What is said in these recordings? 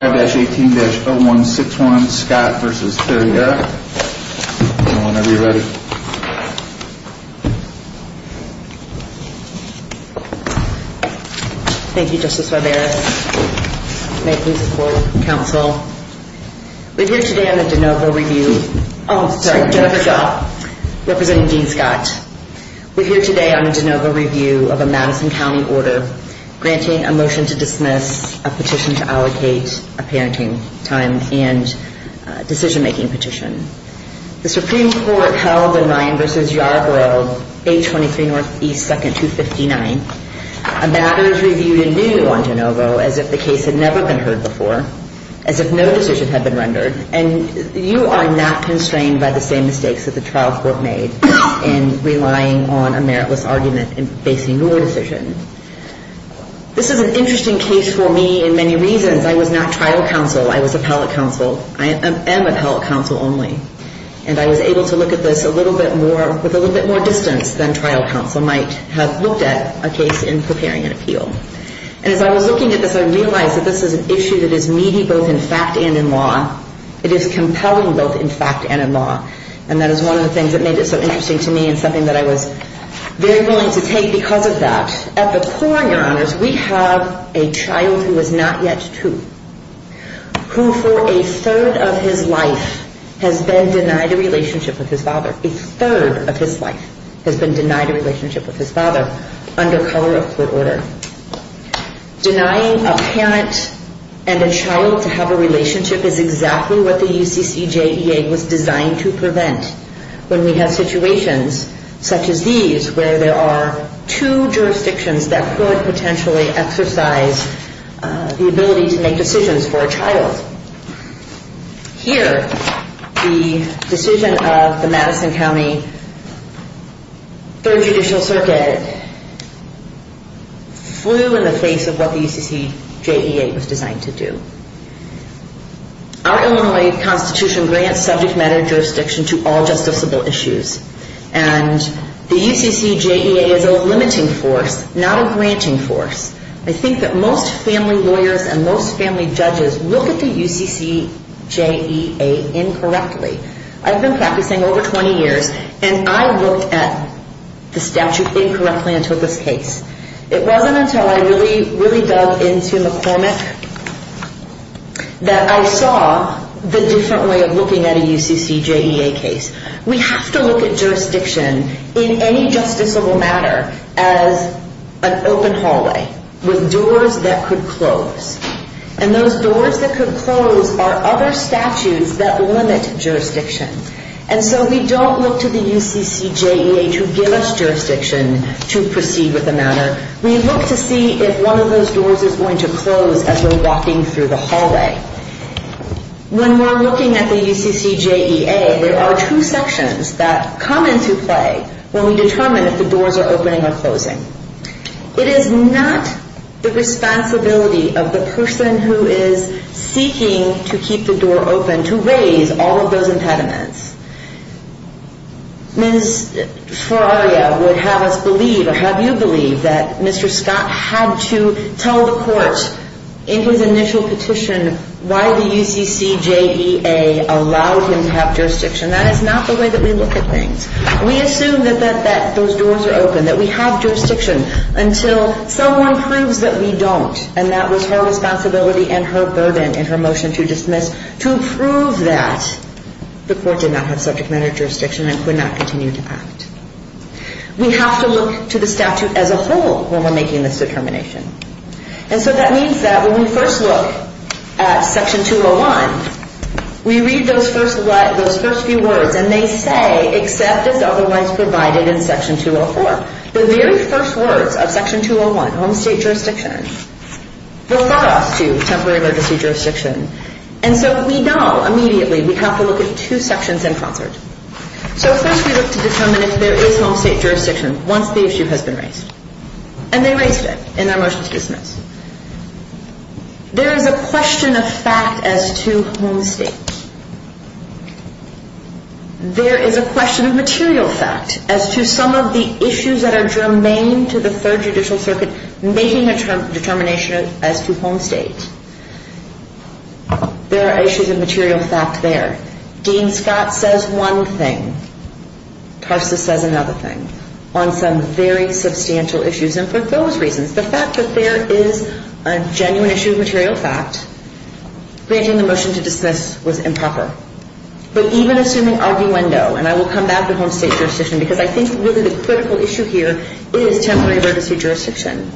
Thank you Justice Barbera. May I please report to counsel. We are here today on the DeNovo review. Oh sorry, Jennifer Shaw representing Dean Scott. We are here today on the DeNovo review of a Madison County order granting a motion to dismiss, a petition to allocate a parenting time, and a decision-making petition. The Supreme Court held in Ryan v. Yarbrough 823 NE 2nd 259, a matter is reviewed anew on DeNovo as if the case had never been heard before, as if no decision had been rendered. And you are not constrained by the same mistakes that the trial court made in relying on a meritless argument in basing your decision. This is an interesting case for me in many reasons. I was not trial counsel. I was appellate counsel. I am appellate counsel only. And I was able to look at this a little bit more with a little bit more distance than trial counsel might have looked at a case in preparing an appeal. And as I was looking at this, I realized that this is an issue that is needy both in fact and in law. It is compelling both in fact and in law. And that is one of the things that made it so interesting to me and something that I was very willing to take because of that. At the core, Your Honors, we have a child who is not yet two, who for a third of his life has been denied a relationship with his father. A third of his life has been denied a relationship with his father under color of court order. Denying a parent and child to have a relationship is exactly what the UCCJEA was designed to prevent when we have situations such as these where there are two jurisdictions that could potentially exercise the ability to make decisions for a child. Here, the decision of the Madison County Third Judicial Circuit flew in the face of what the UCCJEA was designed to do. Our Illinois Constitution grants subject matter jurisdiction to all justiciable issues. And the UCCJEA is a limiting force, not a granting force. I think that most family lawyers and most family judges look at the UCCJEA incorrectly. I've been practicing over 20 years and I looked at the statute incorrectly until this case. It wasn't until I really dug into McCormick that I saw the different way of looking at a UCCJEA case. We have to look at jurisdiction in any justiciable matter as an open hallway with doors that could close. And those doors that could close are other statutes that limit jurisdiction. And so we don't look to the UCCJEA to give us jurisdiction to proceed with the matter. We look to see if one of those doors could be open in the hallway. When we're looking at the UCCJEA, there are two sections that come into play when we determine if the doors are opening or closing. It is not the responsibility of the person who is seeking to keep the door open to raise all of those impediments. Ms. Ferraria would have us believe or have you believe that Mr. Scott had to tell the court in his initial petition why the UCCJEA allowed him to have jurisdiction. That is not the way that we look at things. We assume that those doors are open, that we have jurisdiction until someone proves that we don't. And that was her responsibility and her burden in her motion to dismiss to prove that the court did not have subject matter jurisdiction and could not continue to act. We have to look to the statute as a whole when we're making this determination. And so that means that when we first look at Section 201, we read those first few words and they say except as otherwise provided in Section 204. The very first words of Section 201, home state jurisdiction, refer us to temporary emergency jurisdiction. And so we know immediately we have to look at two sections in concert. So first we look to determine if there is home state jurisdiction once the case is closed. And they raised it in their motion to dismiss. There is a question of fact as to home state. There is a question of material fact as to some of the issues that are germane to the Third Judicial Circuit making a determination as to home state. There are issues of material fact there. Dean Scott says one thing. Tarsus says another thing on some very substantial issues. And for those reasons, the fact that there is a genuine issue of material fact, granting the motion to dismiss was improper. But even assuming arguendo, and I will come back to home state jurisdiction because I think really the critical issue here is temporary emergency jurisdiction.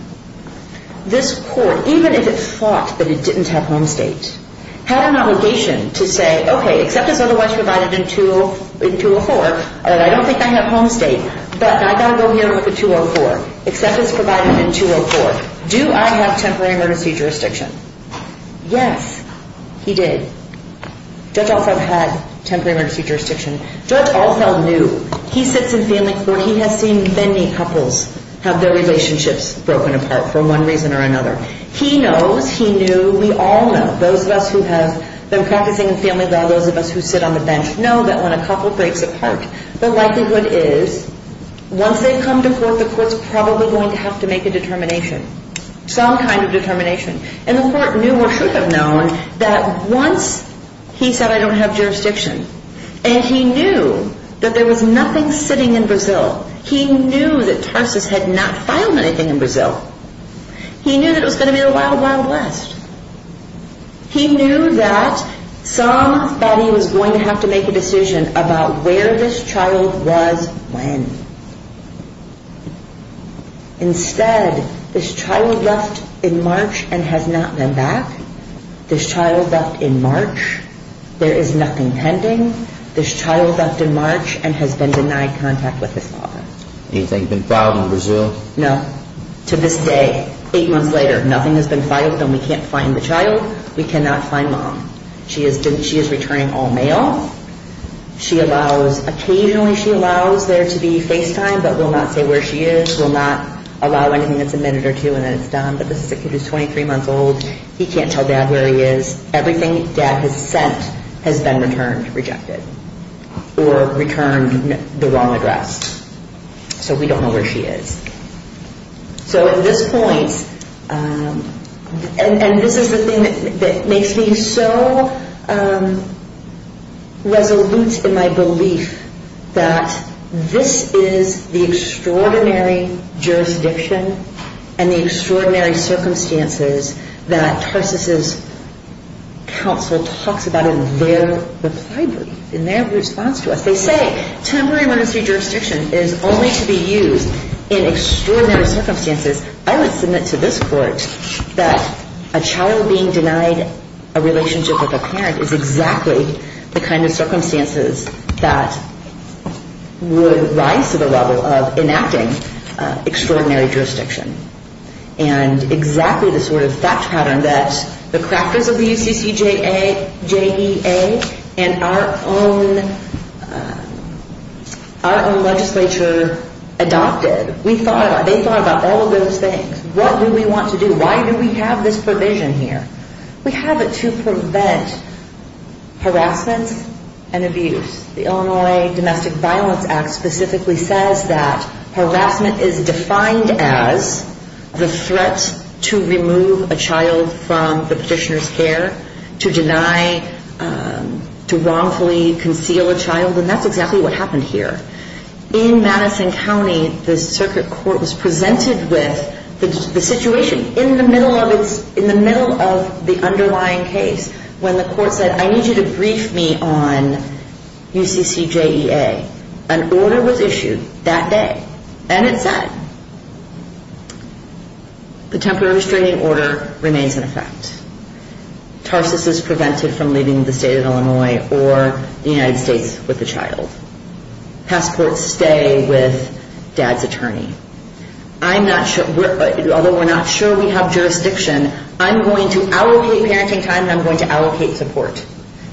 This court, even if it thought that it didn't have home state, had an obligation to say, okay, except as otherwise provided in 204, and I don't think I have home state, but I got to go here with the 204, except as provided in 204, do I have temporary emergency jurisdiction? Yes, he did. Judge Althell had temporary emergency jurisdiction. Judge Althell knew. He sits in family court. He has seen many couples have their relationships broken apart for one reason or another. He knows, he knew, we all know, those of us who have been practicing family law, those of us who sit on the bench know that when a couple breaks apart, the likelihood is once they come to court, the court's probably going to have to make a determination, some kind of determination. And the court knew or should have known that once he said I don't have jurisdiction, and he knew that there was nothing sitting in Brazil, he knew that Tarsus had not filed anything in Brazil, he knew that it was going to be a wild, wild west. He knew that somebody was going to have to make a decision about where this child was when. Instead, this child left in March and has not been back. This child left in March. There is nothing pending. This child left in March and has been denied contact with his father. Anything been filed in Brazil? No. To this day, eight months later, nothing has been filed and we can't find the child. We cannot find mom. She is returning all-male. She allows, occasionally she allows there to be FaceTime, but will not say where she is, will not allow anything that's a minute or two and then it's done. But this is a kid who's 23 months old. He can't tell dad where he is. Everything dad has sent has been returned, rejected or returned the wrong address. So we don't know where she is. So at this point, and this is the thing that makes me so, um, I don't know if this is a resolute in my belief that this is the extraordinary jurisdiction and the extraordinary circumstances that Tarsus' counsel talks about in their reply brief, in their response to us. They say, temporary emergency jurisdiction is only to be used in extraordinary circumstances. I would submit to this court that a child being denied a relationship with a parent is exactly the kind of circumstances that would rise to the level of enacting extraordinary jurisdiction. And exactly the sort of fact pattern that the crackers of the UCCJEA and our own, our own legislature adopted. We thought about, they thought about all of those things. What do we want to do? Why do we have this provision here? We have it to prevent harassment and abuse. The Illinois Domestic Violence Act specifically says that harassment is defined as the threat to remove a child from the petitioner's care, to deny, to wrongfully conceal a child and that's exactly what happened here. In Madison County, the circuit court was presented with the situation in the middle of the underlying case when the court said, I need you to brief me on UCCJEA. An order was issued that day and it said, the temporary restraining order remains in effect. Tarsus is prevented from leaving the state of Illinois or the United States. Although we're not sure we have jurisdiction, I'm going to allocate parenting time and I'm going to allocate support.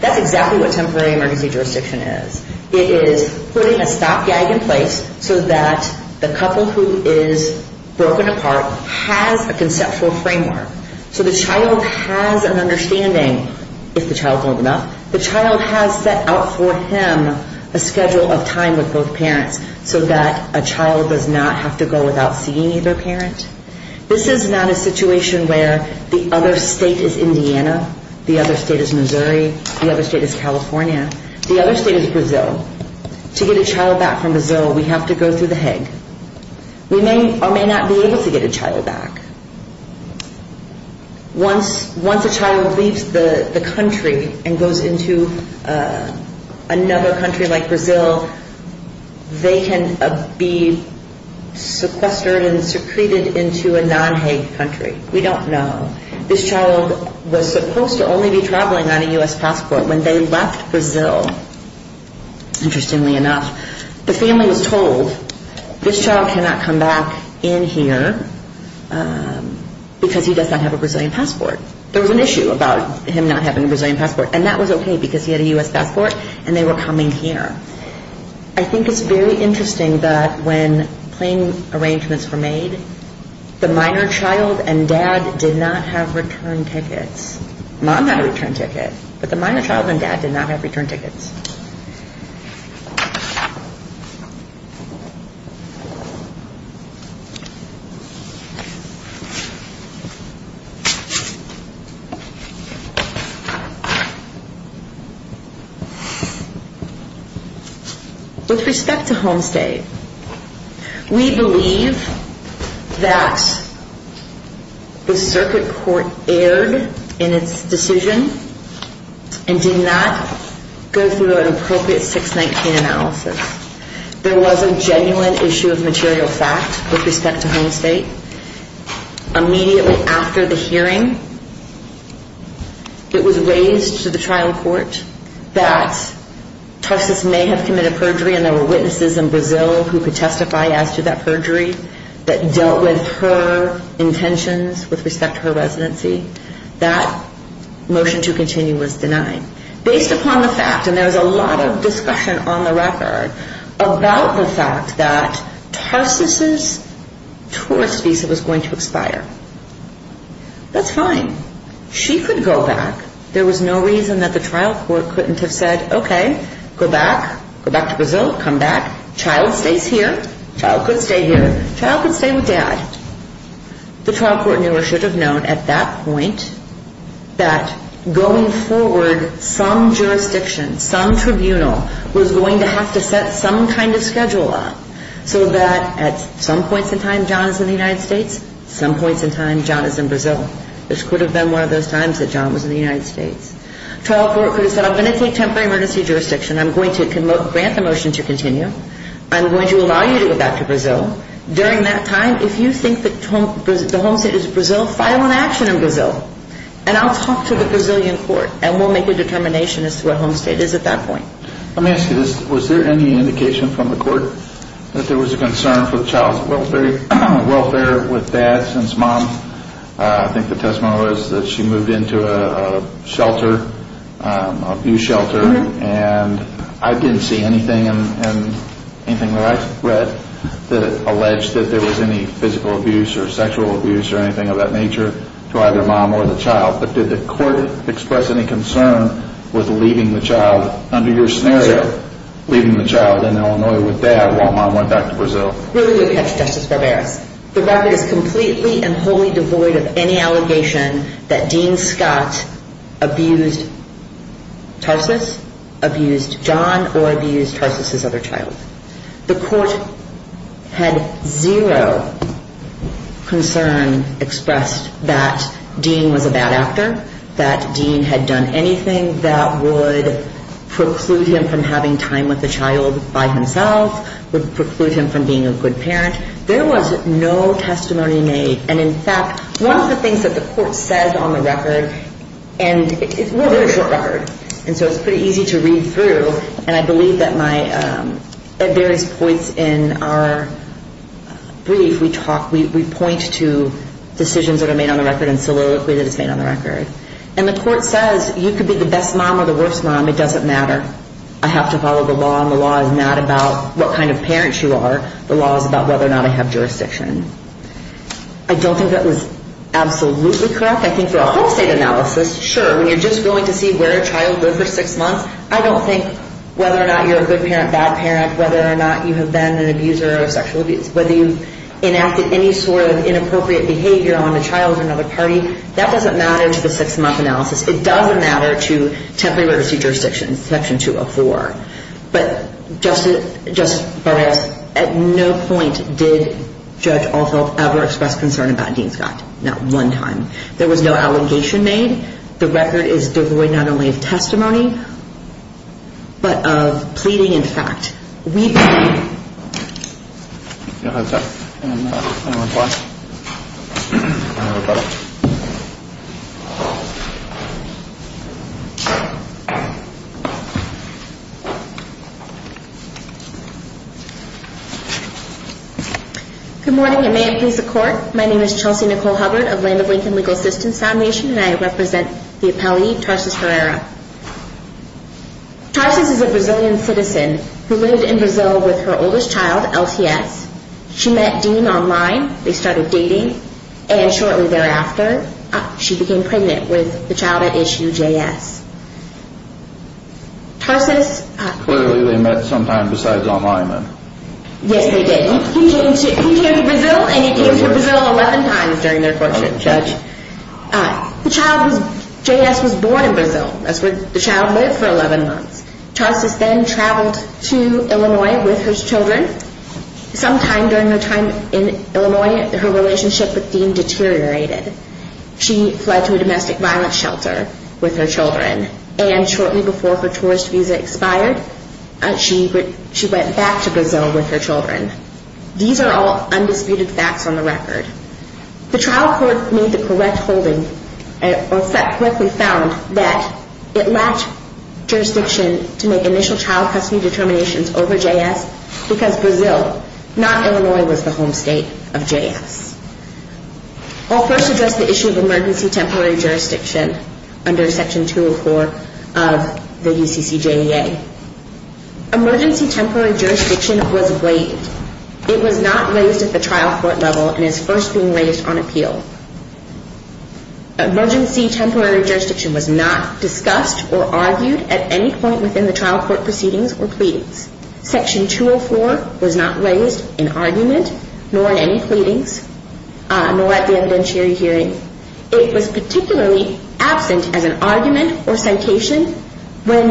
That's exactly what temporary emergency jurisdiction is. It is putting a stopgag in place so that the couple who is broken apart has a conceptual framework. So the child has an understanding, if the child's old enough, the child has set out for him a schedule of time with both parents so that a child does not have to go without seeing either parent. This is not a situation where the other state is Indiana, the other state is Missouri, the other state is California, the other state is Brazil. To get a child back from Brazil, we have to go through the Hague. We may or may not be able to get a child back. Once a child leaves the country and goes into another country like Brazil, they can be sequestered and secreted into a non-Hague country. We don't know. This child was supposed to only be traveling on a U.S. passport. When they left Brazil, interestingly enough, the family was told this child cannot come back in here because he does not have a Brazilian passport. There was an issue about him not having a Brazilian passport and that he was coming here. I think it's very interesting that when plane arrangements were made, the minor child and dad did not have return tickets. Mom had a return ticket, but the minor child and dad did not have return tickets. With respect to Homestay, we believe that the circuit court erred in its decision and did not go through an appropriate 619 analysis. There was a genuine issue of material fact with respect to Homestay. Immediately after the hearing, it was raised to the trial court that Tarsus may have committed perjury and there were witnesses in Brazil who could testify as to that perjury that dealt with her intentions with respect to her residency. That motion to continue was denied. Based upon the fact, and there was a lot of discussion on the record about the fact that Tarsus's tourist visa was going to expire. That's fine. She could go back. There was no reason that the trial court couldn't have said, okay, go back, go back to Brazil, come back. Child stays here. Child could stay here. Child could stay with dad. The trial court knew or should have known at that point that going forward, some jurisdiction, some tribunal was going to have to set some kind of schedule up so that at some points in time John is in the United States, some points in time John is in Brazil. This could have been one of those times that John was in the United States. Trial court could have said, I'm going to take temporary emergency jurisdiction. I'm going to grant the motion to continue. I'm going to allow you to go back to Brazil. During that time, if you think that the Homestay is Brazil, file an action in Brazil and I'll talk to the Brazilian court and we'll make a determination as to what Homestay is at that point. Let me ask you this. Was there any indication from the court that there was a concern for the child's welfare with dad since mom, I think the testimony was that she moved into a shelter, abuse shelter, and I didn't see anything in anything that I read that alleged that there was any physical abuse or sexual abuse or anything of that nature to either mom or the child, but did the court express any concern with leaving the child under your scenario, leaving the child in Illinois with dad while mom went back to Brazil? Really, we'll catch Justice Barberas. The record is completely and wholly devoid of any allegation that Dean Scott abused Tarsus, abused John, or abused Tarsus' other child. The court had zero concern expressed that Dean was a bad actor, that Dean had done anything that would preclude him from having time with the child by himself, would preclude him from being a good parent. There was no testimony made, and in fact, one of the things that the court says on the record, and it's a very short record, and so it's pretty easy to read through, and I believe that my, at various points in our brief, we talk, we point to decisions that are made on the record and soliloquy that is made on the record, and the court says you could be the best mom or the worst mom, it doesn't matter. I have to make sure that I have jurisdiction. I don't think that was absolutely correct. I think for a whole state analysis, sure, when you're just going to see where a child lived for six months, I don't think whether or not you're a good parent, bad parent, whether or not you have been an abuser or a sexual abuser, whether you've enacted any sort of inappropriate behavior on the child or another party, that doesn't matter to the six-month analysis. It doesn't matter to temporary literacy jurisdictions, section 204, but Justice Barrett, at no point did Judge Althoff ever express concern about Dean Scott, not one time. There was no allegation made. The record is devoid not only of testimony, but of pleading and fact. We believe... Good morning, and may it please the Court. My name is Chelsea Nicole Hubbard of Land of Lincoln Legal Assistance Foundation, and I represent the appellee, Tarsis Herrera. Tarsis is a Brazilian citizen who lived in Brazil with her oldest child, LTS. She met Dean online. They started dating, and shortly thereafter, she became pregnant with the child at issue, JS. Tarsis... Clearly, they met sometimes besides online, then. Yes, they did. He came to Brazil, and he came to Brazil 11 times during their courtship, Judge. JS was born in Brazil. That's where the child lived for 11 months. Tarsis then traveled to Illinois with her children. Sometime during her time in Illinois, her relationship with Dean deteriorated. She fled to a domestic violence shelter with her children, and shortly before her tourist visa expired, she went back to Brazil with her children. These are all undisputed facts on the record. The trial court made the correct holding, or found that it lacked jurisdiction to make initial child custody determinations over JS because Brazil, not Illinois, was the home state of JS. I'll first address the issue of emergency temporary jurisdiction under Section 204 of the UCCJEA. Emergency temporary jurisdiction was waived. It was not raised at the trial court level and is first being raised on appeal. Emergency temporary jurisdiction was not discussed or argued at any point within the trial court proceedings or pleadings. Section 204 was not raised in argument, nor in any pleadings, nor at the evidentiary hearing. It was particularly absent as an argument or citation when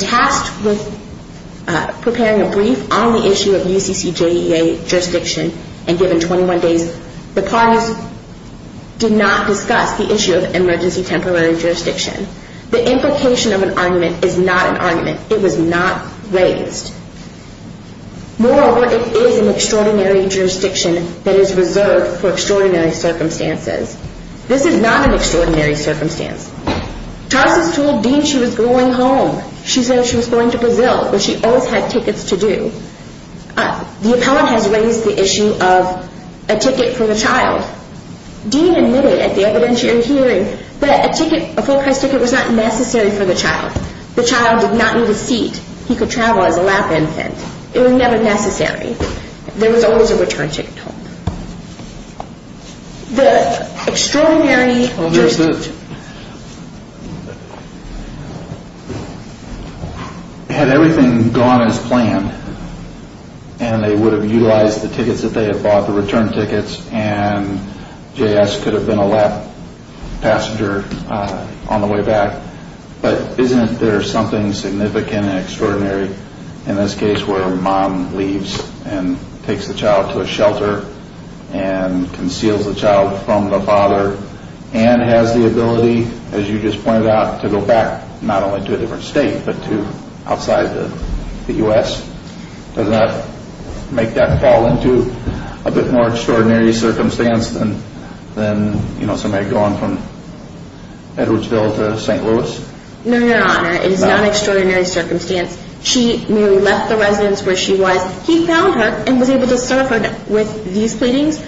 tasked with preparing a brief on the issue of UCCJEA jurisdiction and given 21 days, the parties did not discuss the issue of emergency temporary jurisdiction. The implication of an argument is not an argument. It was not raised. Moreover, it is an extraordinary jurisdiction that is reserved for extraordinary circumstances. This is not an extraordinary circumstance. Tarsas told Dean she was going home. She said she was going to Brazil, which she always had tickets to do. The appellant has raised the issue of a ticket for the child. Dean admitted at the evidentiary hearing that a ticket, a full price ticket, was not necessary for the child. The child did not need a seat. He could travel as a lap infant. It was never necessary. There was always a return ticket for the child. It was an extraordinary jurisdiction. Had everything gone as planned and they would have utilized the tickets that they had bought, the return tickets, and J.S. could have been a lap passenger on the way back, but isn't there something significant and extraordinary in this case where a mom leaves and takes the child to a shelter and conceals the child from the father and has the ability, as you just pointed out, to go back not only to a different state, but to outside the U.S.? Does that make that fall into a bit more extraordinary circumstance than somebody going from Edwardsville to St. Louis? No, Your Honor, it is not an extraordinary circumstance. She merely left the residence where she was. He found her and was able to serve her with these pleadings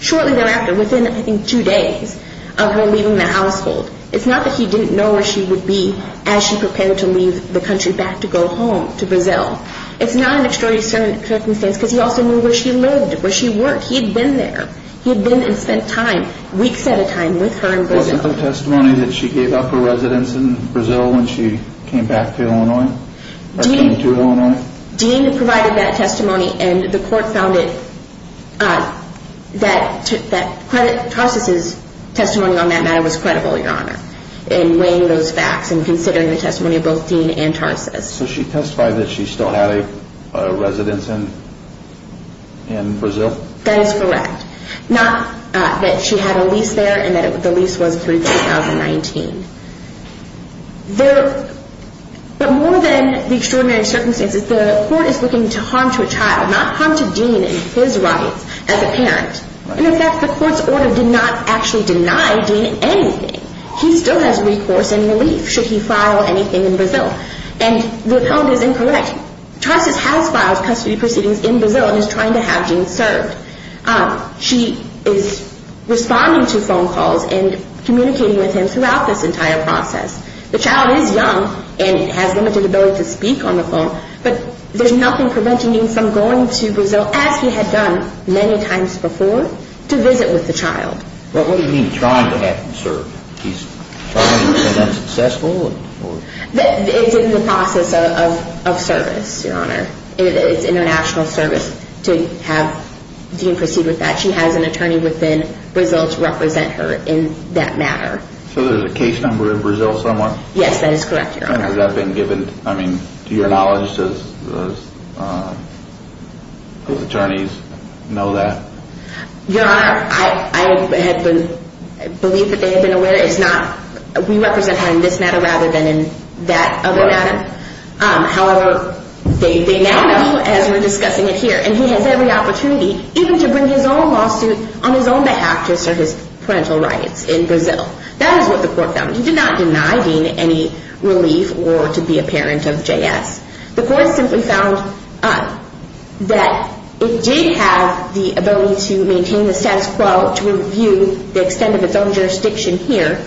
shortly thereafter, within, I think, two days of her leaving the household. It's not that he didn't know where she would be as she prepared to leave the country back to go home to Brazil. It's not an extraordinary circumstance because he also knew where she lived, where she worked. He had been there. He had been and spent time, weeks at a time, with her in Brazil. Wasn't there testimony that she gave up her residence in Brazil when she came back to Illinois, or came to Illinois? Dean provided that testimony and the court found it that Tarsus' testimony on that matter was credible, Your Honor, in weighing those facts and considering the testimony of both Dean and Tarsus. So she testified that she still had a residence in Brazil? That is correct. Not that she had a lease there and that the lease was through 2019. But more than the extraordinary circumstances, the court is looking to harm to a child, not harm to Dean and his rights as a parent. In effect, the court's order did not actually deny Dean anything. He still has recourse and relief should he file anything in Brazil. And the account is incorrect. Tarsus has filed custody proceedings in Brazil and is trying to have Dean served. She is responding to phone calls and communicating with him throughout this entire process. The child is young and has limited ability to speak on the phone, but there's nothing preventing him from going to Brazil, as he had done many times before, to visit with the child. But what do you mean trying to have him served? Is that successful? It's in the process of service, Your Honor. It's international service to have Dean proceed with that. She has an attorney within Brazil to represent her in that matter. So there's a case number in Brazil somewhere? Yes, that has never been given. I mean, to your knowledge, does those attorneys know that? Your Honor, I believe that they have been aware. We represent her in this matter rather than in that other matter. However, they now know, as we're discussing it here, and he has every opportunity even to bring his own lawsuit on his own behalf to serve his parental rights in Brazil. That is what the court found. He did not deny Dean any relief or to be a parent of J.S. The court simply found that it did have the ability to maintain the status quo to review the extent of its own jurisdiction here,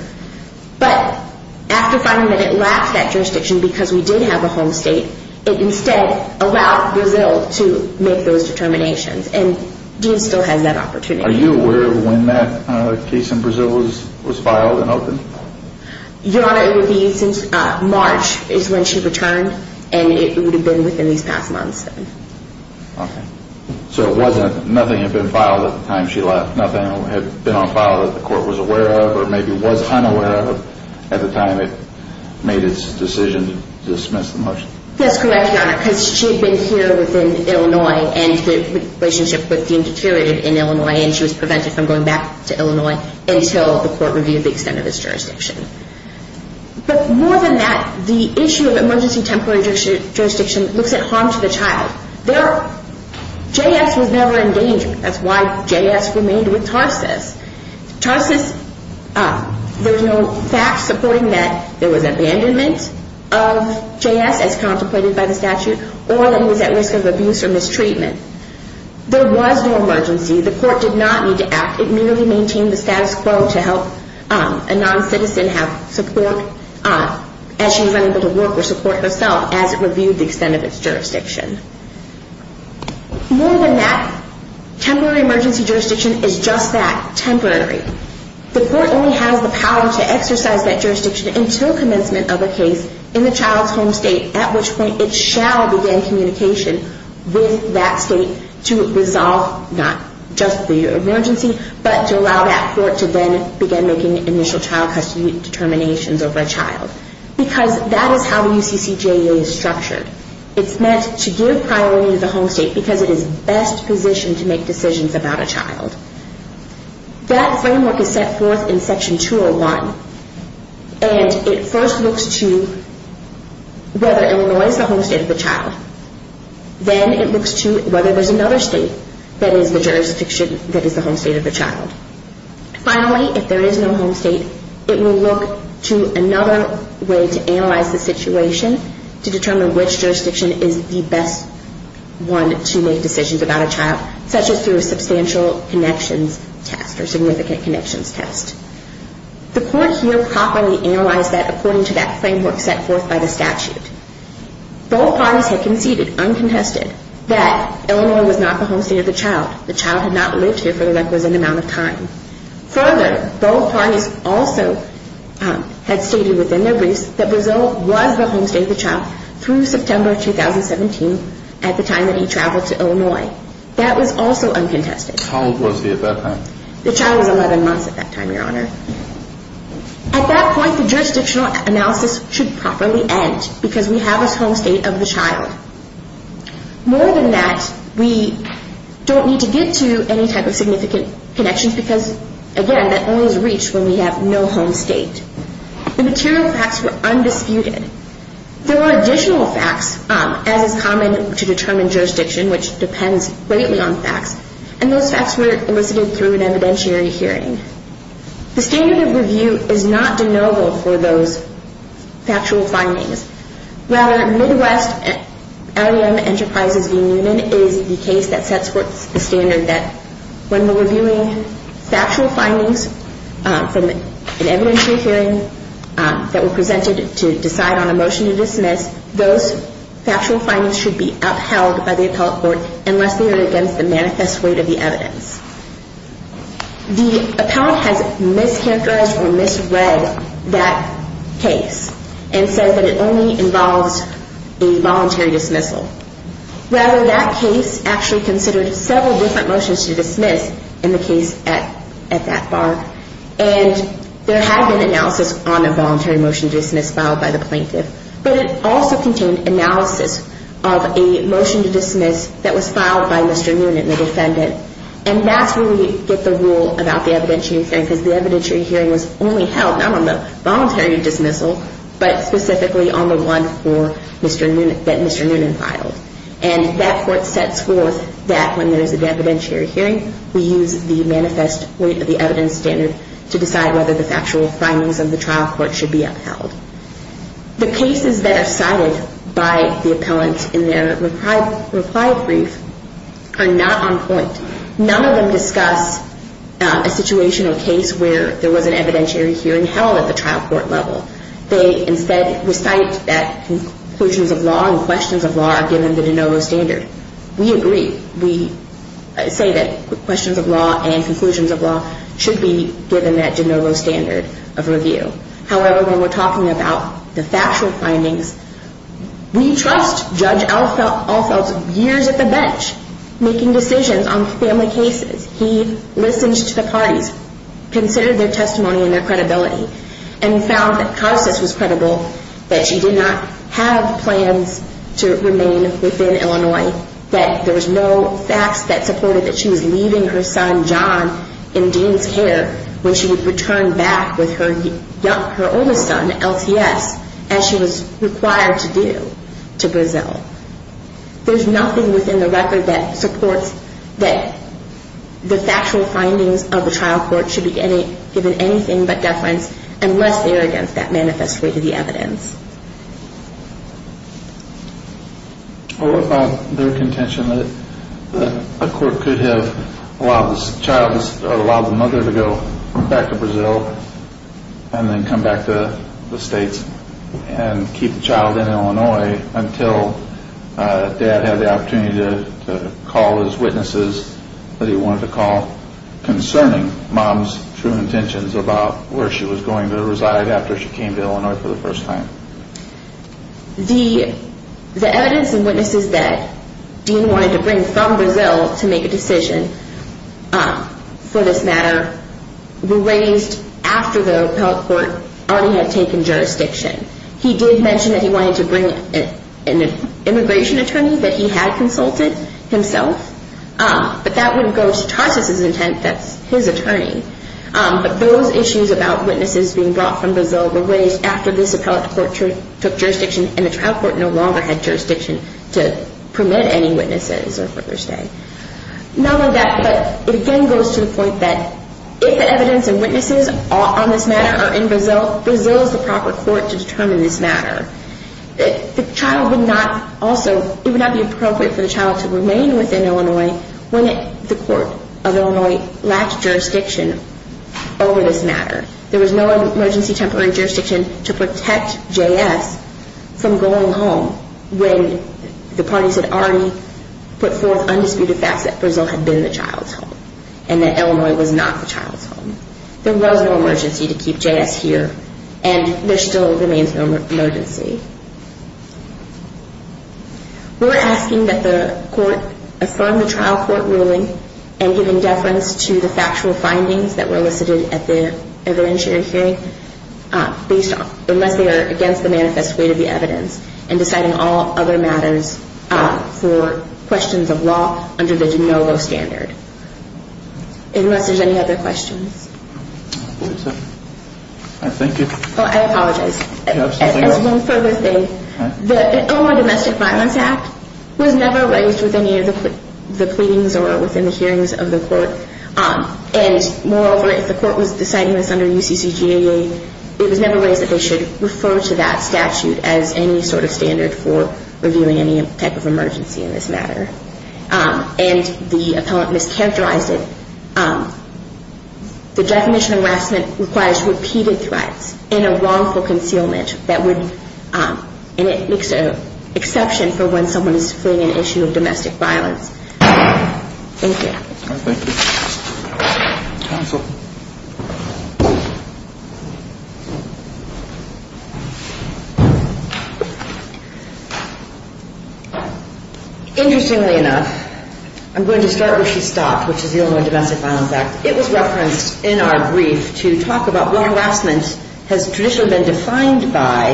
but after finding that it lacked that jurisdiction because we did have a home state, it instead allowed Brazil to make those determinations. And Dean still has that opportunity. Are you aware of when that case in Brazil was filed and opened? Your Honor, it would be since March is when she returned, and it would have been within these past months. Okay. So it wasn't, nothing had been filed at the time she left? Nothing had been on file that the court was aware of or maybe was unaware of at the time it made its decision to dismiss the motion? That's correct, Your Honor, because she had been here within Illinois and the relationship with Dean deteriorated in Illinois and she was prevented from going back to Illinois until the court reviewed the extent of its jurisdiction. But more than that, the issue of emergency temporary jurisdiction looks at harm to the child. J.S. was never in danger. That's why J.S. remained with Tarsus. Tarsus, there's no facts supporting that there was abandonment of J.S. as contemplated by the statute or that he was at risk of abuse or mistreatment. There was no emergency. The court did not need to act. It merely maintained the status quo to help a non-citizen have support as she was unable to work or support herself as it reviewed the extent of its jurisdiction. More than that, temporary emergency jurisdiction is just that, temporary. The court only has the power to exercise that jurisdiction until commencement of a case in the child's home state, at which point it shall begin communication with that state to resolve not just the emergency, but to allow that court to then begin making initial child custody determinations over a child, because that is how the UCCJA is structured. It's meant to give priority to the home state because it is best positioned to make decisions about a child. That framework is set forth in Section 201 and it first looks to whether Illinois is the home state of the child. Then it looks to whether there's another state that is the jurisdiction that is the home state of the child. Finally, if there is no home state, it will look to another way to analyze the situation to determine which jurisdiction is the best one to make decisions about a child, such as through a substantial connections test or significant connections test. The court here properly analyzed that according to that framework set forth by the statute. Both parties had conceded, uncontested, that Illinois was not the home state of the child. The child had not lived here for the requisite amount of time. Further, both parties also had stated within their briefs that Brazil was the home state of the child through September 2017 at the time that he traveled to Illinois. That was also uncontested. How old was he at that time? The child was 11 months at that time, Your Honor. At that point, the jurisdictional analysis should properly end because we have a home state of the child. More than that, we don't need to get to any type of significant connections because, again, that only is reached when we have no home state. The material facts were undisputed. There were additional facts, as is common to determine jurisdiction, which depends greatly on facts, and those facts were elicited through an evidentiary hearing. The standard of review is not de novo for those factual findings. Rather, Midwest LEM Enterprises v. Newman is the case that sets forth the standard that when we're reviewing factual findings from an evidentiary hearing that were presented to decide on a motion to dismiss, those factual findings should be upheld by the appellate court unless they are against the manifest weight of the evidence. The appellate has mischaracterized or misread that case and said that it only involves a voluntary dismissal. Rather, that case actually considered several different motions to dismiss in the case at that bar, and there had been analysis on a voluntary motion to dismiss filed by the plaintiff, but it also contained analysis of a motion to dismiss that was filed by Mr. Newman, the defendant, and that's where we get the rule about the evidentiary hearing because the evidentiary hearing was only held not on the voluntary dismissal, but specifically on the one that Mr. Newman filed, and that court sets forth that when there's an evidentiary hearing, we use the manifest weight of the evidence standard to decide whether the factual findings of the trial court should be upheld. The cases that are cited by the appellant in their reply brief are not on point. None of them discuss a situation or case where there was an evidentiary hearing held at the trial court level. They instead recite that conclusions of law and questions of law are given the de novo standard. We agree. We say that questions of law and conclusions of law should be given that de novo standard of review. However, when we're talking about the factual findings, we trust Judge Alfeld's years at the bench, making decisions on family cases. He listened to the parties, considered their testimony and their credibility, and found that Karsas was credible, that she did not have plans to remain within Illinois, that there was no facts that supported that she was leaving her son, John, in Dean's care when she would return back with her oldest son, LCS, as she was required to do, to Brazil. There's nothing within the record that supports that the factual findings of the trial court should be given anything but deference, unless they are against that manifest weight of the fact that a court could have allowed the mother to go back to Brazil and then come back to the states and keep the child in Illinois until dad had the opportunity to call his witnesses that he wanted to call concerning mom's true intentions about where she was going to reside after she came to Illinois for the first time. The evidence and witnesses that Dean wanted to bring from Brazil to make a decision, for this matter, were raised after the appellate court already had taken jurisdiction. He did mention that he wanted to bring an immigration attorney that he had consulted himself, but that wouldn't go to Karsas' intent, that's his attorney. But those issues about witnesses being brought from Brazil were raised after this appellate court took jurisdiction and the trial court no longer had jurisdiction to permit any witnesses or further stay. Not only that, but it again goes to the point that if the evidence and witnesses on this matter are in Brazil, Brazil is the proper court to determine this matter. The child would not also, it would not be appropriate for the child to remain within Illinois when the court of Illinois lacked jurisdiction over this matter. There was no emergency temporary jurisdiction to protect J.S. from going home when the parties had already put forth undisputed facts that Brazil had been the child's home and that Illinois was not the child's home. There was no emergency to keep J.S. here and there still remains no We're asking that the court affirm the trial court ruling and giving deference to the factual findings that were elicited at the evidentiary hearing, unless they are against the manifest weight of the evidence, and deciding all other matters for questions of law under the de novo standard. Unless there's any other questions. I apologize. As one further thing, the Illinois Domestic Violence Act was never raised with any of the pleadings or within the hearings of the court. And moreover, if the court was deciding this under UCCGAA, it was never raised that they should refer to that statute as any sort of standard for reviewing any type of emergency in this matter. And the appellant mischaracterized it. The definition of harassment requires repeated threats and a wrongful concealment that would, and it makes an exception for when someone is fleeing an issue of domestic violence. Thank you. Counsel. Interestingly enough, I'm going to start where she stopped, which is the Illinois Domestic Violence Act. It was referenced in our brief to talk about what harassment has traditionally been defined by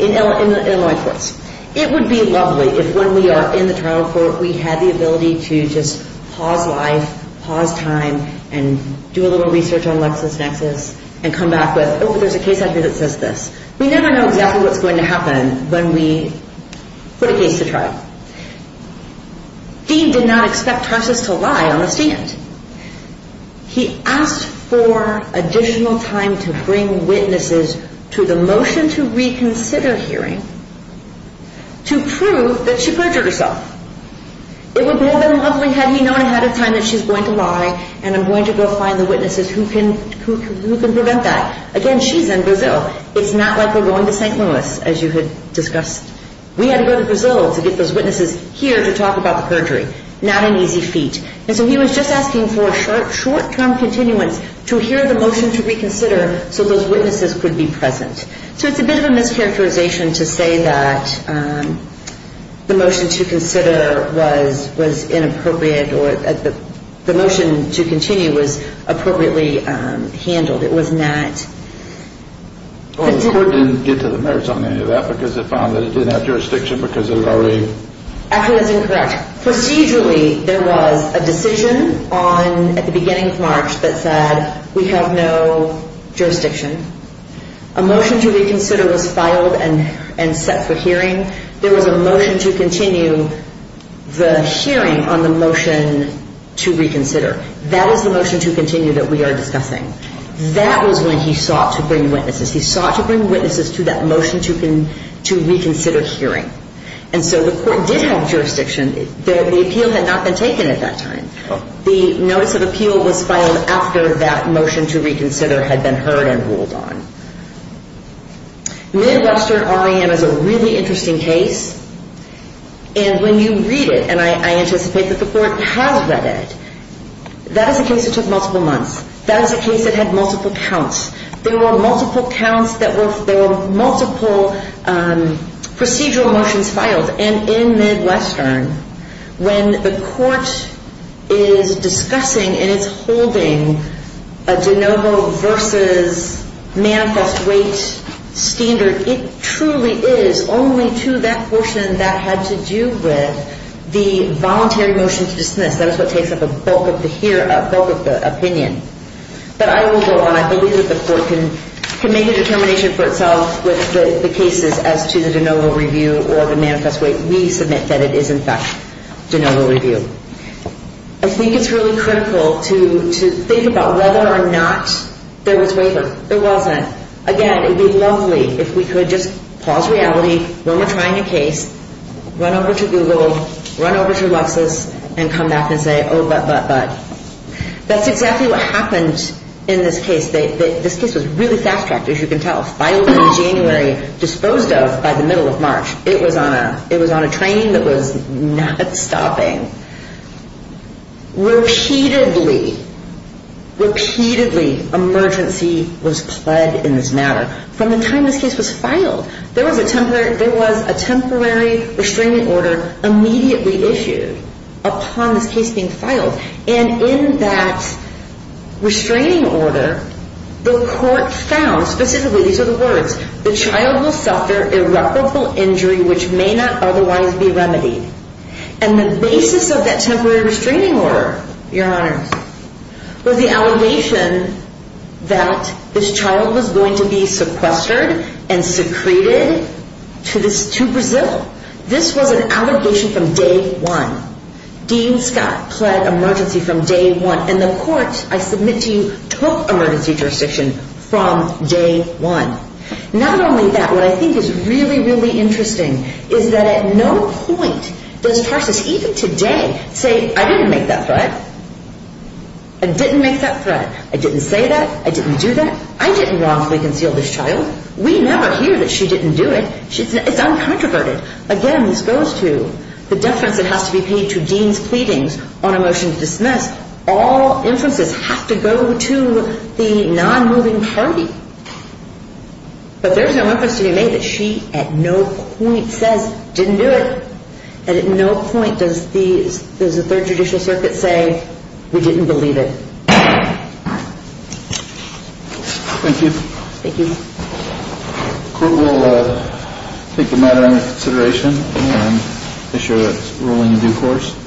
in Illinois courts. It would be lovely if when we are in the trial court, we had the ability to just pause life, pause time, and do a little research on LexisNexis and come back with, oh, there's a case out here that says this. We never know exactly what's going to happen when we put a case to trial. Dean did not expect Tarsus to lie on the stand. He asked for additional time to bring witnesses to the motion to reconsider hearing to prove that she lied. It would have been lovely had he known ahead of time that she's going to lie and I'm going to go find the witnesses who can prevent that. Again, she's in Brazil. It's not like we're going to St. Louis, as you had discussed. We had to go to Brazil to get those witnesses here to talk about the perjury. Not an easy feat. So he was just asking for short-term continuance to hear the motion to reconsider so those witnesses could be present. So it's a bit of a mischaracterization to say that the motion to consider was inappropriate or the motion to continue was appropriately handled. It was not... Well, the court didn't get to the merits on any of that because it found that it didn't have jurisdiction because it was already... Actually, that's incorrect. Procedurally, there was a decision on, at the beginning of March, that said we have no jurisdiction. A motion to reconsider was filed and set for hearing. There was a motion to continue the hearing on the motion to reconsider. That was the motion to continue that we are discussing. That was when he sought to bring witnesses. He sought to bring witnesses to that motion to reconsider hearing. And so the court did have jurisdiction. The appeal had not been taken at that time. The notice of appeal was filed after that motion to reconsider had been heard and it was a fairly interesting case. And when you read it, and I anticipate that the court has read it, that is a case that took multiple months. That is a case that had multiple counts. There were multiple counts that were multiple procedural motions filed. And in Midwestern, when the court is discussing and it's holding a de novo versus manifest weight standard, it truly is only to that portion that had to do with the voluntary motion to dismiss. That is what takes up a bulk of the hearing, a bulk of the opinion. But I will go on. I believe that the court can make a determination for itself with the cases as to the de novo review or the manifest weight. We submit that it is, in fact, de novo review. I think it's really critical to think about whether or not the case is de novo review, whether or not there was waiver. There wasn't. Again, it would be lovely if we could just pause reality when we're trying a case, run over to Google, run over to Lexis and come back and say, oh, but, but, but. That's exactly what happened in this case. This case was really fast-tracked, as you can tell. Filed in January, disposed of by the middle of March. It was on a train that was not stopping. Repeatedly, repeatedly emergency was pled in this matter. From the time this case was filed, there was a temporary restraining order immediately issued upon this case being filed. And in that restraining order, the court found, specifically, these are the words, the child will suffer irreparable injury which may not otherwise be remedied. And the basis of this is that this child was going to be sequestered and secreted to Brazil. This was an allegation from day one. Dean Scott pled emergency from day one. And the court, I submit to you, took emergency jurisdiction from day one. Not only that, what I think is really, really interesting is that at no point does Tarsus even today say, I didn't make that threat. I didn't make that threat. I didn't say that. I didn't do that. I didn't wrongfully conceal this child. We never hear that she didn't do it. It's uncontroverted. Again, this goes to the deference that has to be paid to Dean's pleadings on a motion to dismiss. All inferences have to go to the non-moving party. But there's no inference to be made that she at no point says, didn't do it. And at no point does the third judicial subpoena say, we didn't believe it. Thank you. The court will take the matter into consideration and issue a ruling in due course.